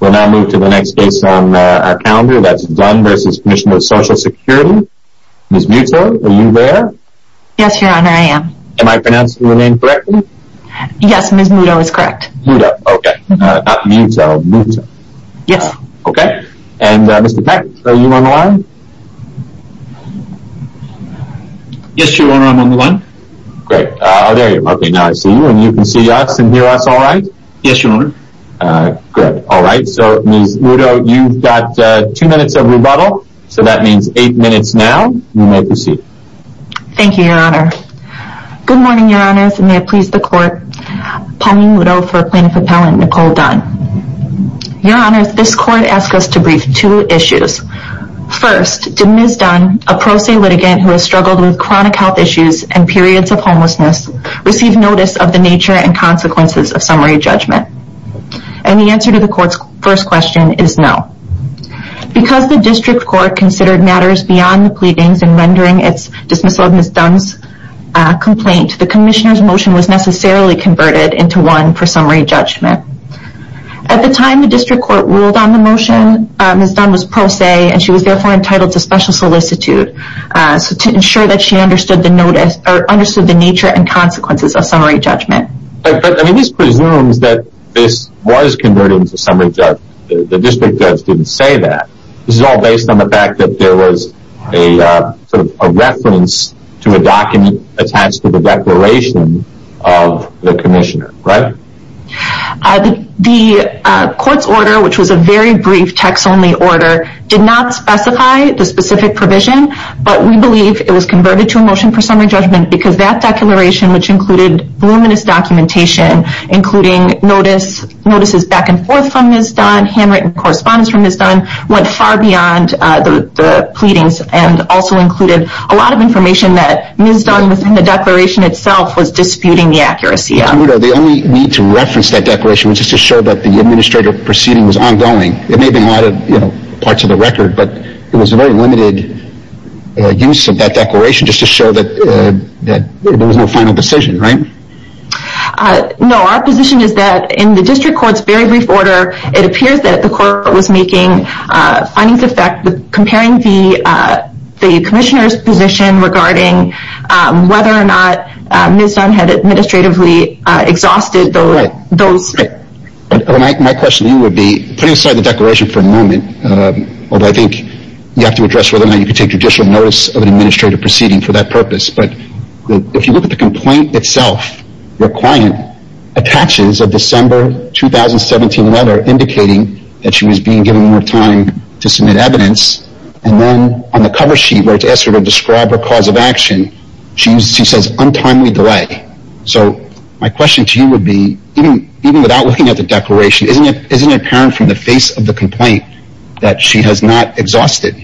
We'll now move to the next case on our calendar, that's Dunn v. Commissioner of Social Security. Ms. Muto, are you there? Yes, Your Honor, I am. Am I pronouncing your name correctly? Yes, Ms. Muto is correct. Muto, okay. Not Muto, Muta. Yes. Okay. And Mr. Peck, are you on the line? Yes, Your Honor, I'm on the line. Great. Oh, there you are. Okay, now I see you, and you can see us and hear us all right? Yes, Your Honor. Good. All right. So, Ms. Muto, you've got two minutes of rebuttal, so that means eight minutes now. You may proceed. Thank you, Your Honor. Good morning, Your Honors, and may it please the Court. Palmine Muto for Plaintiff Appellant Nicole Dunn. Your Honors, this Court asks us to brief two issues. First, did Ms. Dunn, a pro se litigant who has struggled with chronic health issues and periods of homelessness, receive notice of the nature and consequences of summary judgment? And the answer to the Court's first question is no. Because the District Court considered matters beyond the pleadings in rendering its dismissal of Ms. Dunn's complaint, the Commissioner's motion was necessarily converted into one for summary judgment. At the time the District Court ruled on the motion, Ms. Dunn was pro se, and she was therefore entitled to special solicitude to ensure that she understood the nature and consequences of summary judgment. But this presumes that this was converted into summary judgment. The District Judge didn't say that. This is all based on the fact that there was a reference to a document attached to the declaration of the Commissioner, right? The Court's order, which was a very brief text-only order, did not specify the specific provision, but we believe it was converted to a motion for summary judgment because that declaration, which included voluminous documentation, including notices back and forth from Ms. Dunn, handwritten correspondence from Ms. Dunn, went far beyond the pleadings and also included a lot of information that Ms. Dunn, within the declaration itself, was disputing the accuracy of. The only need to reference that declaration was just to show that the administrative proceeding was ongoing. It may have been a lot of parts of the record, but it was a very limited use of that declaration just to show that there was no final decision, right? No, our position is that in the District Court's very brief order, it appears that the Court was making findings of fact My question to you would be, putting aside the declaration for a moment, although I think you have to address whether or not you can take judicial notice of an administrative proceeding for that purpose, but if you look at the complaint itself, your client attaches a December 2017 letter indicating that she was being given more time to submit evidence, and then on the cover sheet where it's asked her to describe her cause of action, she says, untimely delay. So, my question to you would be, even without looking at the declaration, isn't it apparent from the face of the complaint that she has not exhausted?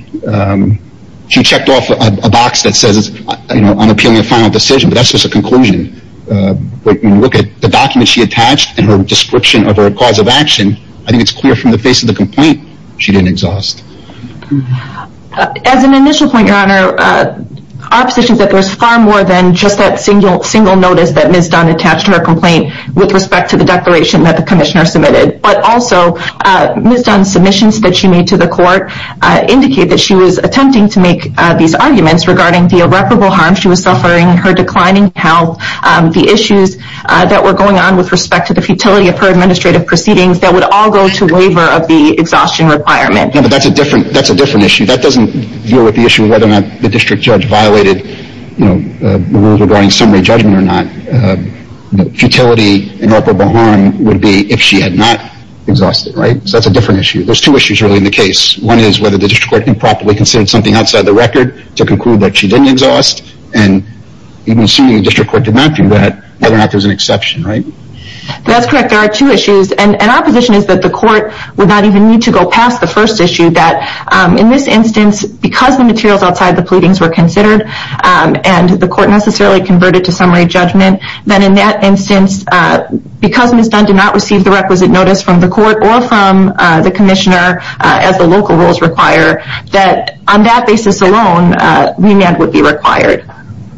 She checked off a box that says, you know, I'm appealing a final decision, but that's just a conclusion. When you look at the document she attached and her description of her cause of action, I think it's clear from the face of the complaint she didn't exhaust. As an initial point, Your Honor, our position is that there's far more than just that single notice that Ms. Dunn attached to her complaint with respect to the declaration that the Commissioner submitted. But also, Ms. Dunn's submissions that she made to the Court indicate that she was attempting to make these arguments regarding the irreparable harm she was suffering, her declining health, the issues that were going on with respect to the futility of her administrative proceedings that would all go to waiver of the exhaustion requirement. No, but that's a different issue. That doesn't deal with the issue of whether or not the District Judge violated, you know, the rules regarding summary judgment or not. Futility, irreparable harm would be if she had not exhausted, right? So, that's a different issue. There's two issues really in the case. One is whether the District Court improperly considered something outside the record to conclude that she didn't exhaust, and even assuming the District Court did not do that, whether or not there's an exception, right? That's correct. There are two issues. And our position is that the Court would not even need to go past the first issue, that in this instance, because the materials outside the pleadings were considered and the Court necessarily converted to summary judgment, that in that instance, because Ms. Dunn did not receive the requisite notice from the Court or from the Commissioner, as the local rules require, that on that basis alone, remand would be required.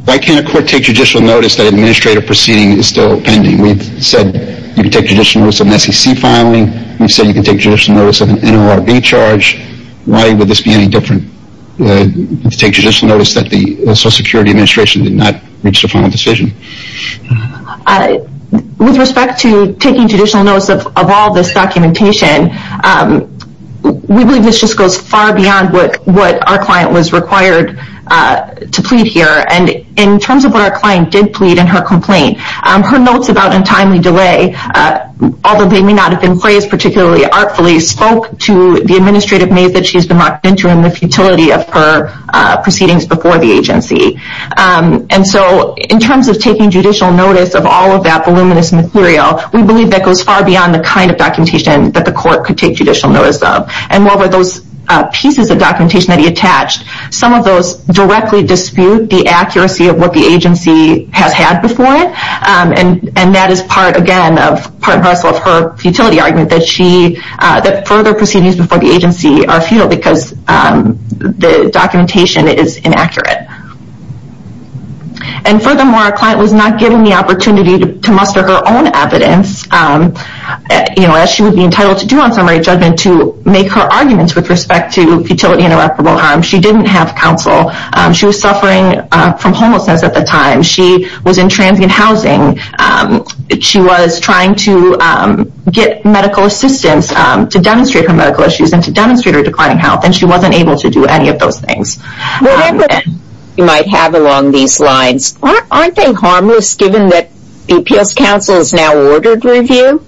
Why can't a Court take judicial notice that administrative proceeding is still pending? We've said you can take judicial notice of an SEC filing. We've said you can take judicial notice of an NORB charge. Why would this be any different to take judicial notice that the Social Security Administration did not reach the final decision? With respect to taking judicial notice of all this documentation, we believe this just goes far beyond what our client was required to plead here. And in terms of what our client did plead in her complaint, her notes about untimely delay, although they may not have been praised particularly artfully, spoke to the administrative maze that she has been locked into and the futility of her proceedings before the agency. And so in terms of taking judicial notice of all of that voluminous material, we believe that goes far beyond the kind of documentation that the Court could take judicial notice of. And while those pieces of documentation that he attached, some of those directly dispute the accuracy of what the agency has had before it, and that is part, again, part and parcel of her futility argument that further proceedings before the agency are futile because the documentation is inaccurate. And furthermore, our client was not given the opportunity to muster her own evidence, as she would be entitled to do on summary judgment, to make her arguments with respect to futility and irreparable harm. She didn't have counsel. She was suffering from homelessness at the time. She was in transient housing. She was trying to get medical assistance to demonstrate her medical issues and to demonstrate her declining health, and she wasn't able to do any of those things. Whatever evidence you might have along these lines, aren't they harmless given that the appeals counsel has now ordered review?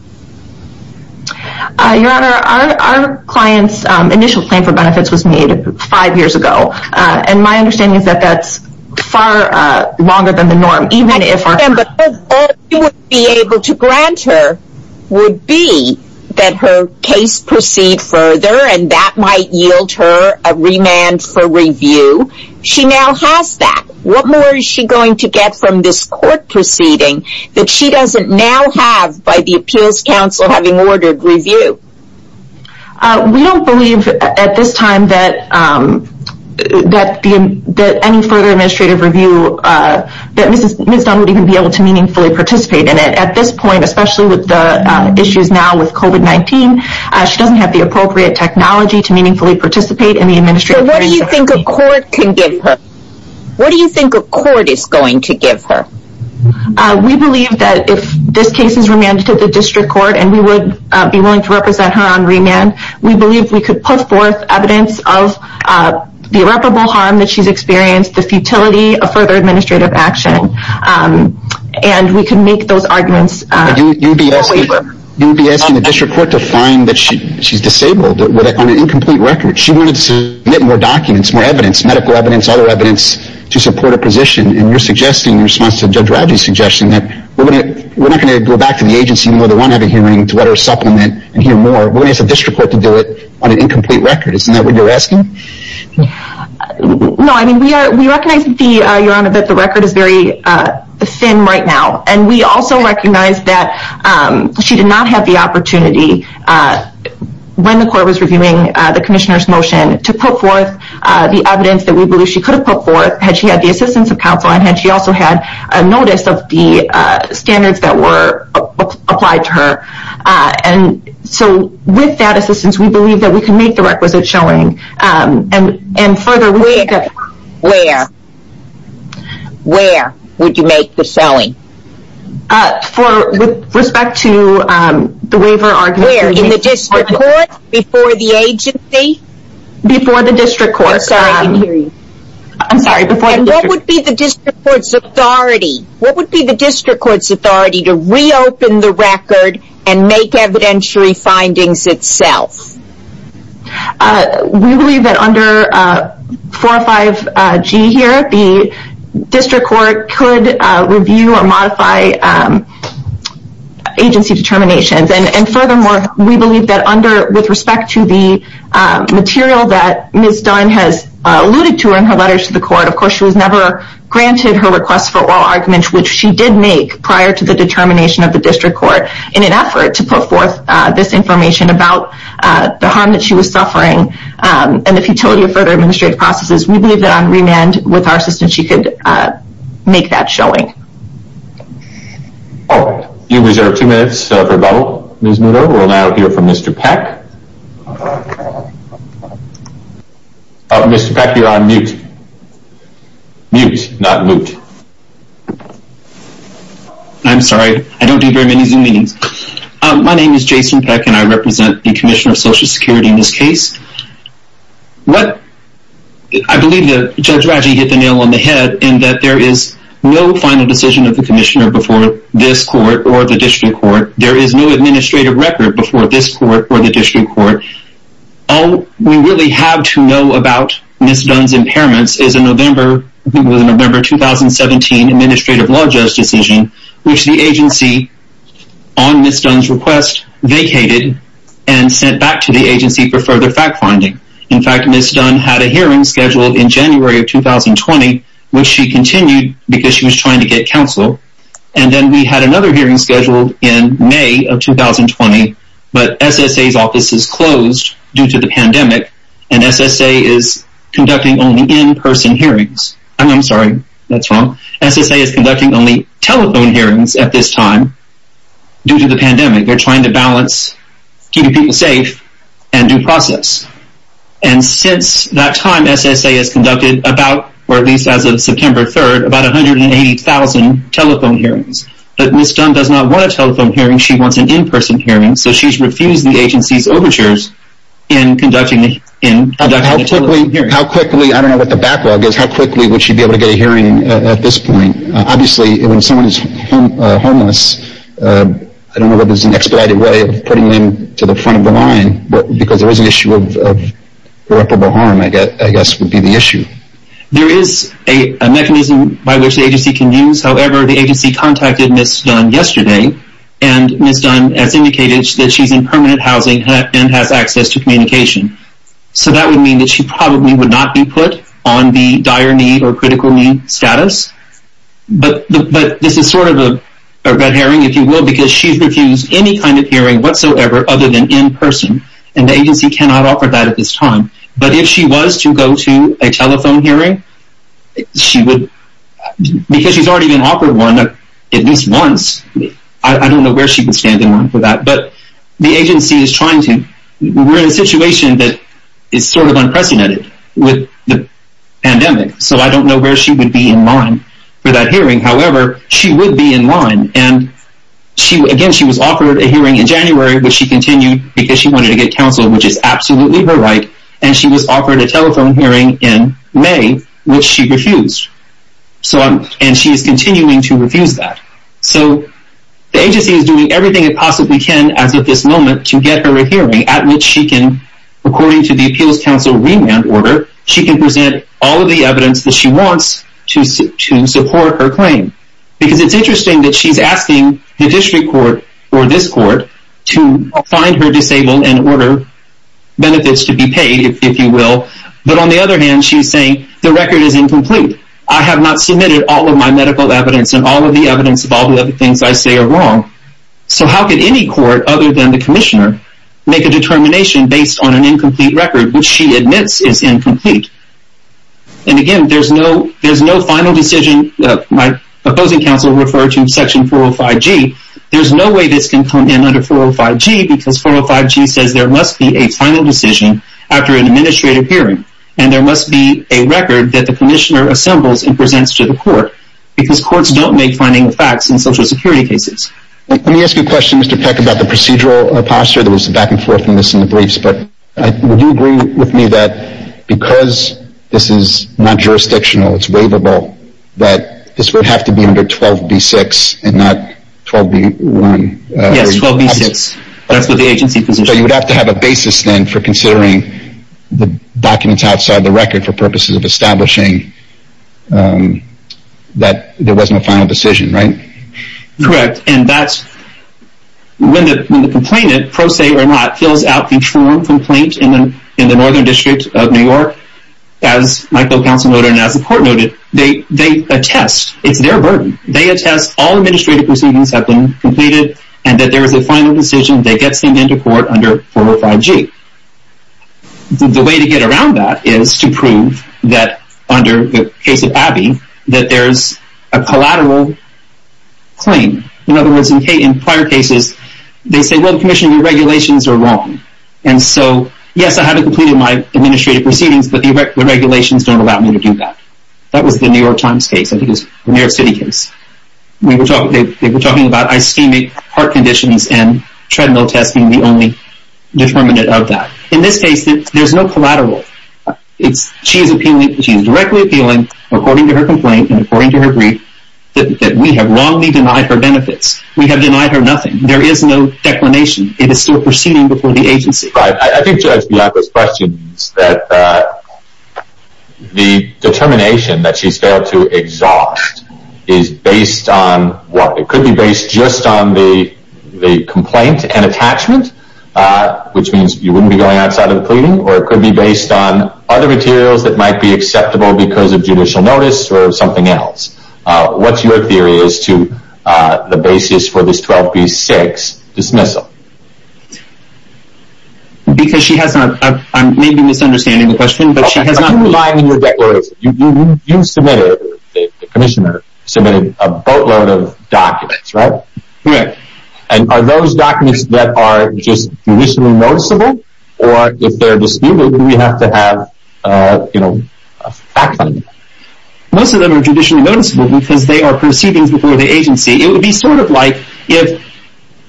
Your Honor, our client's initial claim for benefits was made five years ago, and my understanding is that that's far longer than the norm, even if our... But all you would be able to grant her would be that her case proceed further, and that might yield her a remand for review. She now has that. What more is she going to get from this court proceeding that she doesn't now have by the appeals counsel having ordered review? We don't believe at this time that any further administrative review, that Ms. Dunn would even be able to meaningfully participate in it. At this point, especially with the issues now with COVID-19, she doesn't have the appropriate technology to meaningfully participate in the administrative review. So what do you think a court can give her? What do you think a court is going to give her? We believe that if this case is remanded to the district court, and we would be willing to represent her on remand, we believe we could put forth evidence of the irreparable harm that she's experienced, the futility of further administrative action, and we can make those arguments. You would be asking the district court to find that she's disabled, on an incomplete record. She wanted to submit more documents, more evidence, medical evidence, other evidence, to support her position, and you're suggesting, in response to Judge Radji's suggestion, that we're not going to go back to the agency, even though they want to have a hearing, to let her supplement and hear more. We're going to ask the district court to do it on an incomplete record. Isn't that what you're asking? No, I mean, we recognize, Your Honor, that the record is very thin right now. And we also recognize that she did not have the opportunity, when the court was reviewing the Commissioner's motion, to put forth the evidence that we believe she could have put forth, had she had the assistance of counsel, and had she also had a notice of the standards that were applied to her. And so, with that assistance, we believe that we can make the requisite showing. Where? Where would you make the showing? With respect to the waiver argument. Where? In the district court? Before the agency? Before the district court. I'm sorry, I can't hear you. What would be the district court's authority to reopen the record and make evidentiary findings itself? We believe that under 405G here, the district court could review or modify agency determinations. And furthermore, we believe that with respect to the material that Ms. Dunn has alluded to in her letters to the court, of course she was never granted her request for oral arguments, which she did make prior to the determination of the district court, in an effort to put forth this information about the harm that she was suffering and the futility of further administrative processes, we believe that on remand, with our assistance, she could make that showing. You reserve two minutes for rebuttal. We will now hear from Mr. Peck. Mr. Peck, you're on mute. Mute, not moot. I'm sorry, I don't do very many Zoom meetings. My name is Jason Peck, and I represent the Commissioner of Social Security in this case. I believe that Judge Raggi hit the nail on the head in that there is no final decision of the Commissioner before this court or the district court. There is no administrative record before this court or the district court. All we really have to know about Ms. Dunn's impairments is a November 2017 administrative law judge decision, which the agency, on Ms. Dunn's request, vacated and sent back to the agency for further fact-finding. In fact, Ms. Dunn had a hearing scheduled in January of 2020, which she continued because she was trying to get counsel. And then we had another hearing scheduled in May of 2020, but SSA's office is closed due to the pandemic, and SSA is conducting only in-person hearings. I'm sorry, that's wrong. SSA is conducting only telephone hearings at this time due to the pandemic. They're trying to balance keeping people safe and due process. And since that time, SSA has conducted about, or at least as of September 3rd, about 180,000 telephone hearings. But Ms. Dunn does not want a telephone hearing, she wants an in-person hearing, so she's refused the agency's overtures in conducting the telephone hearings. How quickly, I don't know what the backlog is, how quickly would she be able to get a hearing at this point? Obviously, when someone is homeless, I don't know whether it's an expedited way of putting them to the front of the line, because there is an issue of irreparable harm, I guess, would be the issue. There is a mechanism by which the agency can use. However, the agency contacted Ms. Dunn yesterday, and Ms. Dunn has indicated that she's in permanent housing and has access to communication. So that would mean that she probably would not be put on the dire need or critical need status. But this is sort of a red herring, if you will, because she's refused any kind of hearing whatsoever other than in-person, and the agency cannot offer that at this time. But if she was to go to a telephone hearing, because she's already been offered one at least once, I don't know where she would stand in line for that, but the agency is trying to. We're in a situation that is sort of unprecedented with the pandemic, so I don't know where she would be in line for that hearing. However, she would be in line, and again, she was offered a hearing in January, which she continued because she wanted to get counsel, which is absolutely her right, and she was offered a telephone hearing in May, which she refused. And she is continuing to refuse that. So the agency is doing everything it possibly can as of this moment to get her a hearing at which she can, according to the Appeals Council remand order, she can present all of the evidence that she wants to support her claim. Because it's interesting that she's asking the district court or this court to find her disabled and order benefits to be paid, if you will, but on the other hand, she's saying, the record is incomplete. I have not submitted all of my medical evidence and all of the evidence of all the other things I say are wrong. So how could any court other than the commissioner make a determination based on an incomplete record, which she admits is incomplete? And again, there's no final decision. My opposing counsel referred to Section 405G. There's no way this can come in under 405G because 405G says there must be a final decision after an administrative hearing, and there must be a record that the commissioner assembles and presents to the court, because courts don't make finding of facts in Social Security cases. Let me ask you a question, Mr. Peck, about the procedural posture. There was a back and forth on this in the briefs, but would you agree with me that because this is not jurisdictional, it's waivable, that this would have to be under 12B6 and not 12B1? Yes, 12B6. That's what the agency position is. So you would have to have a basis then for considering the documents outside the record for purposes of establishing that there wasn't a final decision, right? Correct, and that's when the complainant, pro se or not, fills out the form complaint in the Northern District of New York. As my co-counsel noted and as the court noted, they attest, it's their burden, they attest all administrative proceedings have been completed and that there is a final decision that gets sent into court under 405G. The way to get around that is to prove that under the case of Abbey that there's a collateral claim. In other words, in prior cases, they say, well, Commissioner, your regulations are wrong. And so, yes, I have completed my administrative proceedings, but the regulations don't allow me to do that. That was the New York Times case, I think it was the New York City case. They were talking about ischemic heart conditions and treadmill testing the only determinant of that. In this case, there's no collateral. She is appealing, she is directly appealing, according to her complaint and according to her brief, that we have wrongly denied her benefits. We have denied her nothing. There is no declination. It is still proceeding before the agency. I think, Judge Bianco's question is that the determination that she's failed to exhaust is based on what? It could be based just on the complaint and attachment, which means you wouldn't be going outside of the pleading, or it could be based on other materials that might be acceptable because of judicial notice or something else. What's your theory as to the basis for this 12B-6 dismissal? Because she has not... I may be misunderstanding the question, but she has not... You submitted, the commissioner submitted a boatload of documents, right? Correct. And are those documents that are just judicially noticeable? Or if they're disputed, do we have to have a fact-finding? Most of them are judicially noticeable because they are proceedings before the agency. It would be sort of like if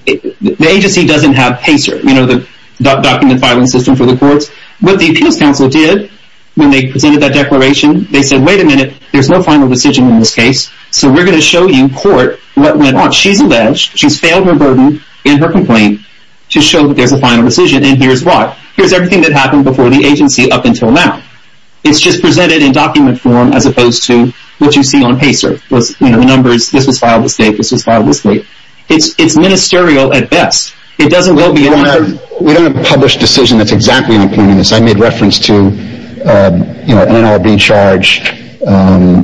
the agency doesn't have PACER, you know, the document filing system for the courts. What the Appeals Council did when they presented that declaration, they said, wait a minute, there's no final decision in this case, so we're going to show you, court, what went on. She's alleged, she's failed her burden in her complaint to show that there's a final decision, and here's what. Here's everything that happened before the agency up until now. It's just presented in document form as opposed to what you see on PACER. You know, the numbers, this was filed this date, this was filed this date. It's ministerial at best. It doesn't go beyond... We don't have a published decision that's exactly including this. I made reference to, you know, an NLRB charge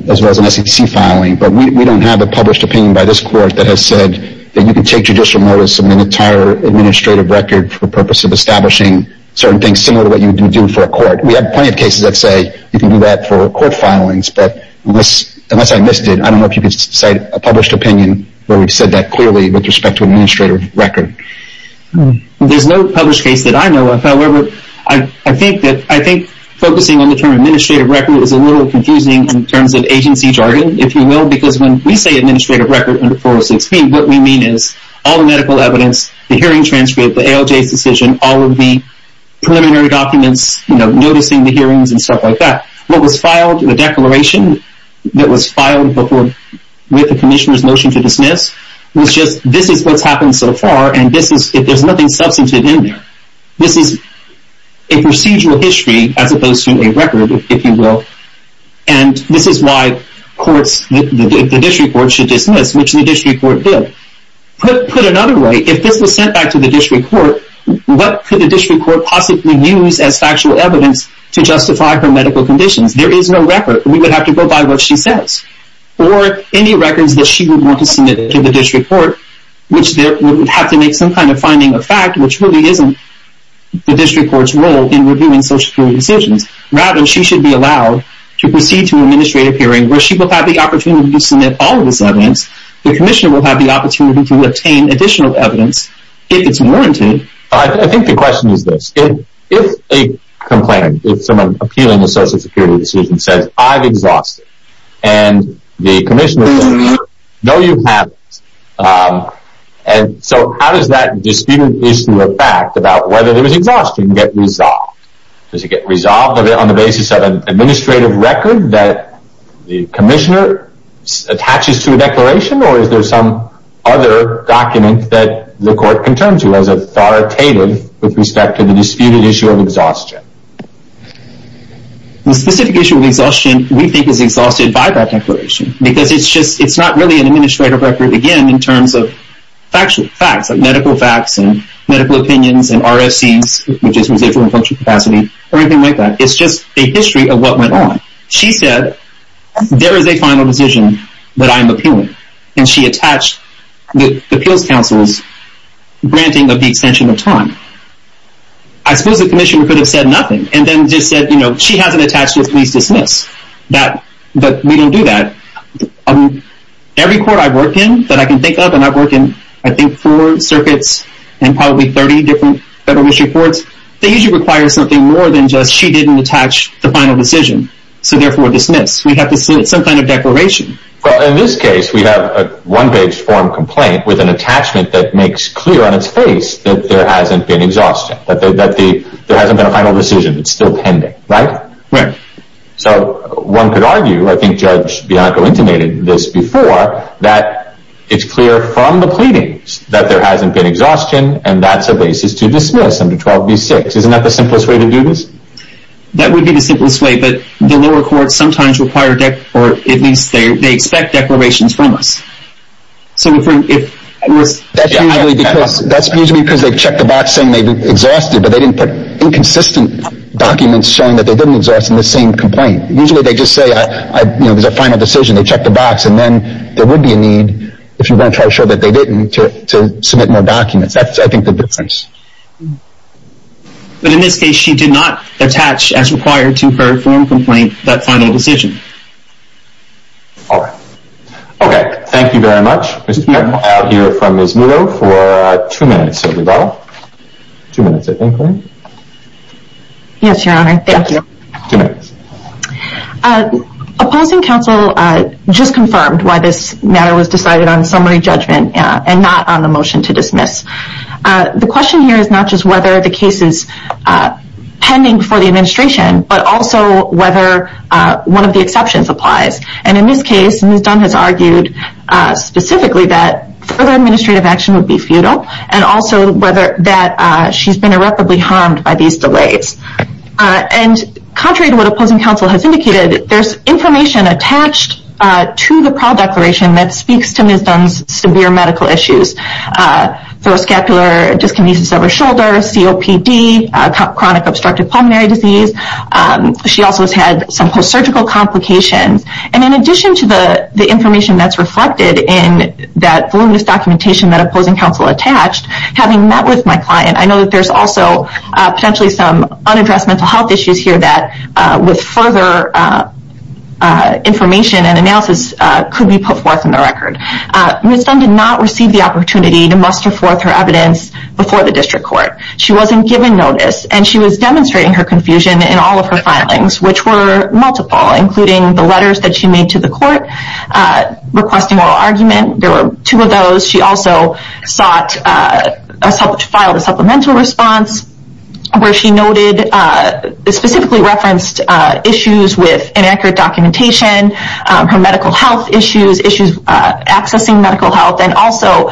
as well as an SEC filing, but we don't have a published opinion by this court that has said that you can take judicial notice of an entire administrative record for the purpose of establishing certain things similar to what you would do for a court. We have plenty of cases that say you can do that for court filings, but unless I missed it, I don't know if you could cite a published opinion where we've said that clearly with respect to administrative record. There's no published case that I know of. However, I think focusing on the term administrative record is a little confusing in terms of agency jargon, if you will, because when we say administrative record under 406B, what we mean is all the medical evidence, the hearing transcript, the ALJ's decision, all of the preliminary documents, you know, noticing the hearings and stuff like that. What was filed in the declaration that was filed with the commissioner's notion to dismiss was just this is what's happened so far, and there's nothing substantive in there. This is a procedural history as opposed to a record, if you will, and this is why the district court should dismiss, which the district court did. Put another way, if this was sent back to the district court, what could the district court possibly use as factual evidence to justify her medical conditions? There is no record. We would have to go by what she says or any records that she would want to submit to the district court, which would have to make some kind of finding of fact, which really isn't the district court's role in reviewing social security decisions. Rather, she should be allowed to proceed to an administrative hearing where she will have the opportunity to submit all of this evidence. The commissioner will have the opportunity to obtain additional evidence if it's warranted. I think the question is this. If a complainant, if someone appealing a social security decision says, I've exhausted, and the commissioner says, no, you haven't, so how does that disputed issue of fact about whether there was exhaustion get resolved? Does it get resolved on the basis of an administrative record that the commissioner attaches to a declaration, or is there some other document that the court can turn to as authoritative with respect to the disputed issue of exhaustion? The specific issue of exhaustion we think is exhausted by that declaration because it's not really an administrative record, again, in terms of factual facts, medical facts and medical opinions and RFCs, which is residual and punctual capacity, or anything like that. It's just a history of what went on. She said, there is a final decision that I'm appealing, and she attached the appeals counsel's granting of the extension of time. I suppose the commissioner could have said nothing, and then just said, you know, she has it attached to a police dismiss, but we don't do that. Every court I've worked in that I can think of, and I've worked in, I think, four circuits and probably 30 different federal issue courts, they usually require something more than just she didn't attach the final decision, so therefore dismiss. We have to submit some kind of declaration. Well, in this case, we have a one-page form complaint with an attachment that makes clear on its face that there hasn't been exhaustion, that there hasn't been a final decision. It's still pending, right? Right. So one could argue, I think Judge Bianco intimated this before, that it's clear from the pleadings that there hasn't been exhaustion, and that's a basis to dismiss under 12b-6. Isn't that the simplest way to do this? That would be the simplest way, but the lower courts sometimes require, or at least they expect declarations from us. So if we're... That's usually because they've checked the box saying they've exhausted, but they didn't put inconsistent documents showing that they didn't exhaust in the same complaint. Usually they just say, you know, there's a final decision. They check the box, and then there would be a need, if you're going to try to show that they didn't, to submit more documents. That's, I think, the difference. But in this case, she did not attach, as required to her form complaint, that final decision. All right. Okay. Thank you very much, Mr. Bianco. I'll hear from Ms. Muto for two minutes, if we will. Two minutes, I think, right? Yes, Your Honor. Thank you. Two minutes. Opposing counsel just confirmed why this matter was decided on summary judgment and not on the motion to dismiss. The question here is not just whether the case is pending for the administration, but also whether one of the exceptions applies. And in this case, Ms. Dunn has argued specifically that further administrative action would be futile and also that she's been irreparably harmed by these delays. And contrary to what opposing counsel has indicated, there's information attached to the prowl declaration that speaks to Ms. Dunn's severe medical issues. Thoroscapular dyskinesis of her shoulder, COPD, chronic obstructive pulmonary disease. She also has had some post-surgical complications. And in addition to the information that's reflected in that voluminous documentation that opposing counsel attached, having met with my client, I know that there's also potentially some unaddressed mental health issues here that with further information and analysis could be put forth in the record. Ms. Dunn did not receive the opportunity to muster forth her evidence before the district court. She wasn't given notice, and she was demonstrating her confusion in all of her filings, which were multiple, including the letters that she made to the court requesting oral argument. There were two of those. She also sought to file a supplemental response where she noted, specifically referenced issues with inaccurate documentation, her medical health issues, issues accessing medical health. And also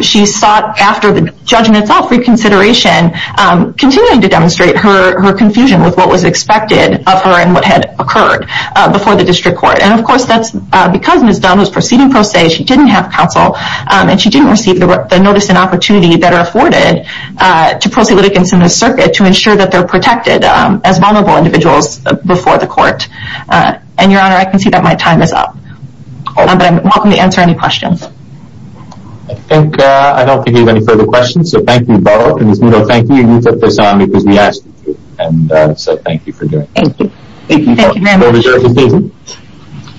she sought, after the judge in itself reconsideration, continuing to demonstrate her confusion with what was expected of her and what had occurred before the district court. And, of course, that's because Ms. Dunn was proceeding pro se. She didn't have counsel, and she didn't receive the notice and opportunity that are afforded to pro se litigants in the circuit to ensure that they're protected as vulnerable individuals before the court. And, Your Honor, I can see that my time is up. But I'm welcome to answer any questions. I think I don't think we have any further questions. So thank you both. And Ms. Nudo, thank you. You put this on because we asked you to. And so thank you for doing this. Thank you. Thank you very much. Thank you.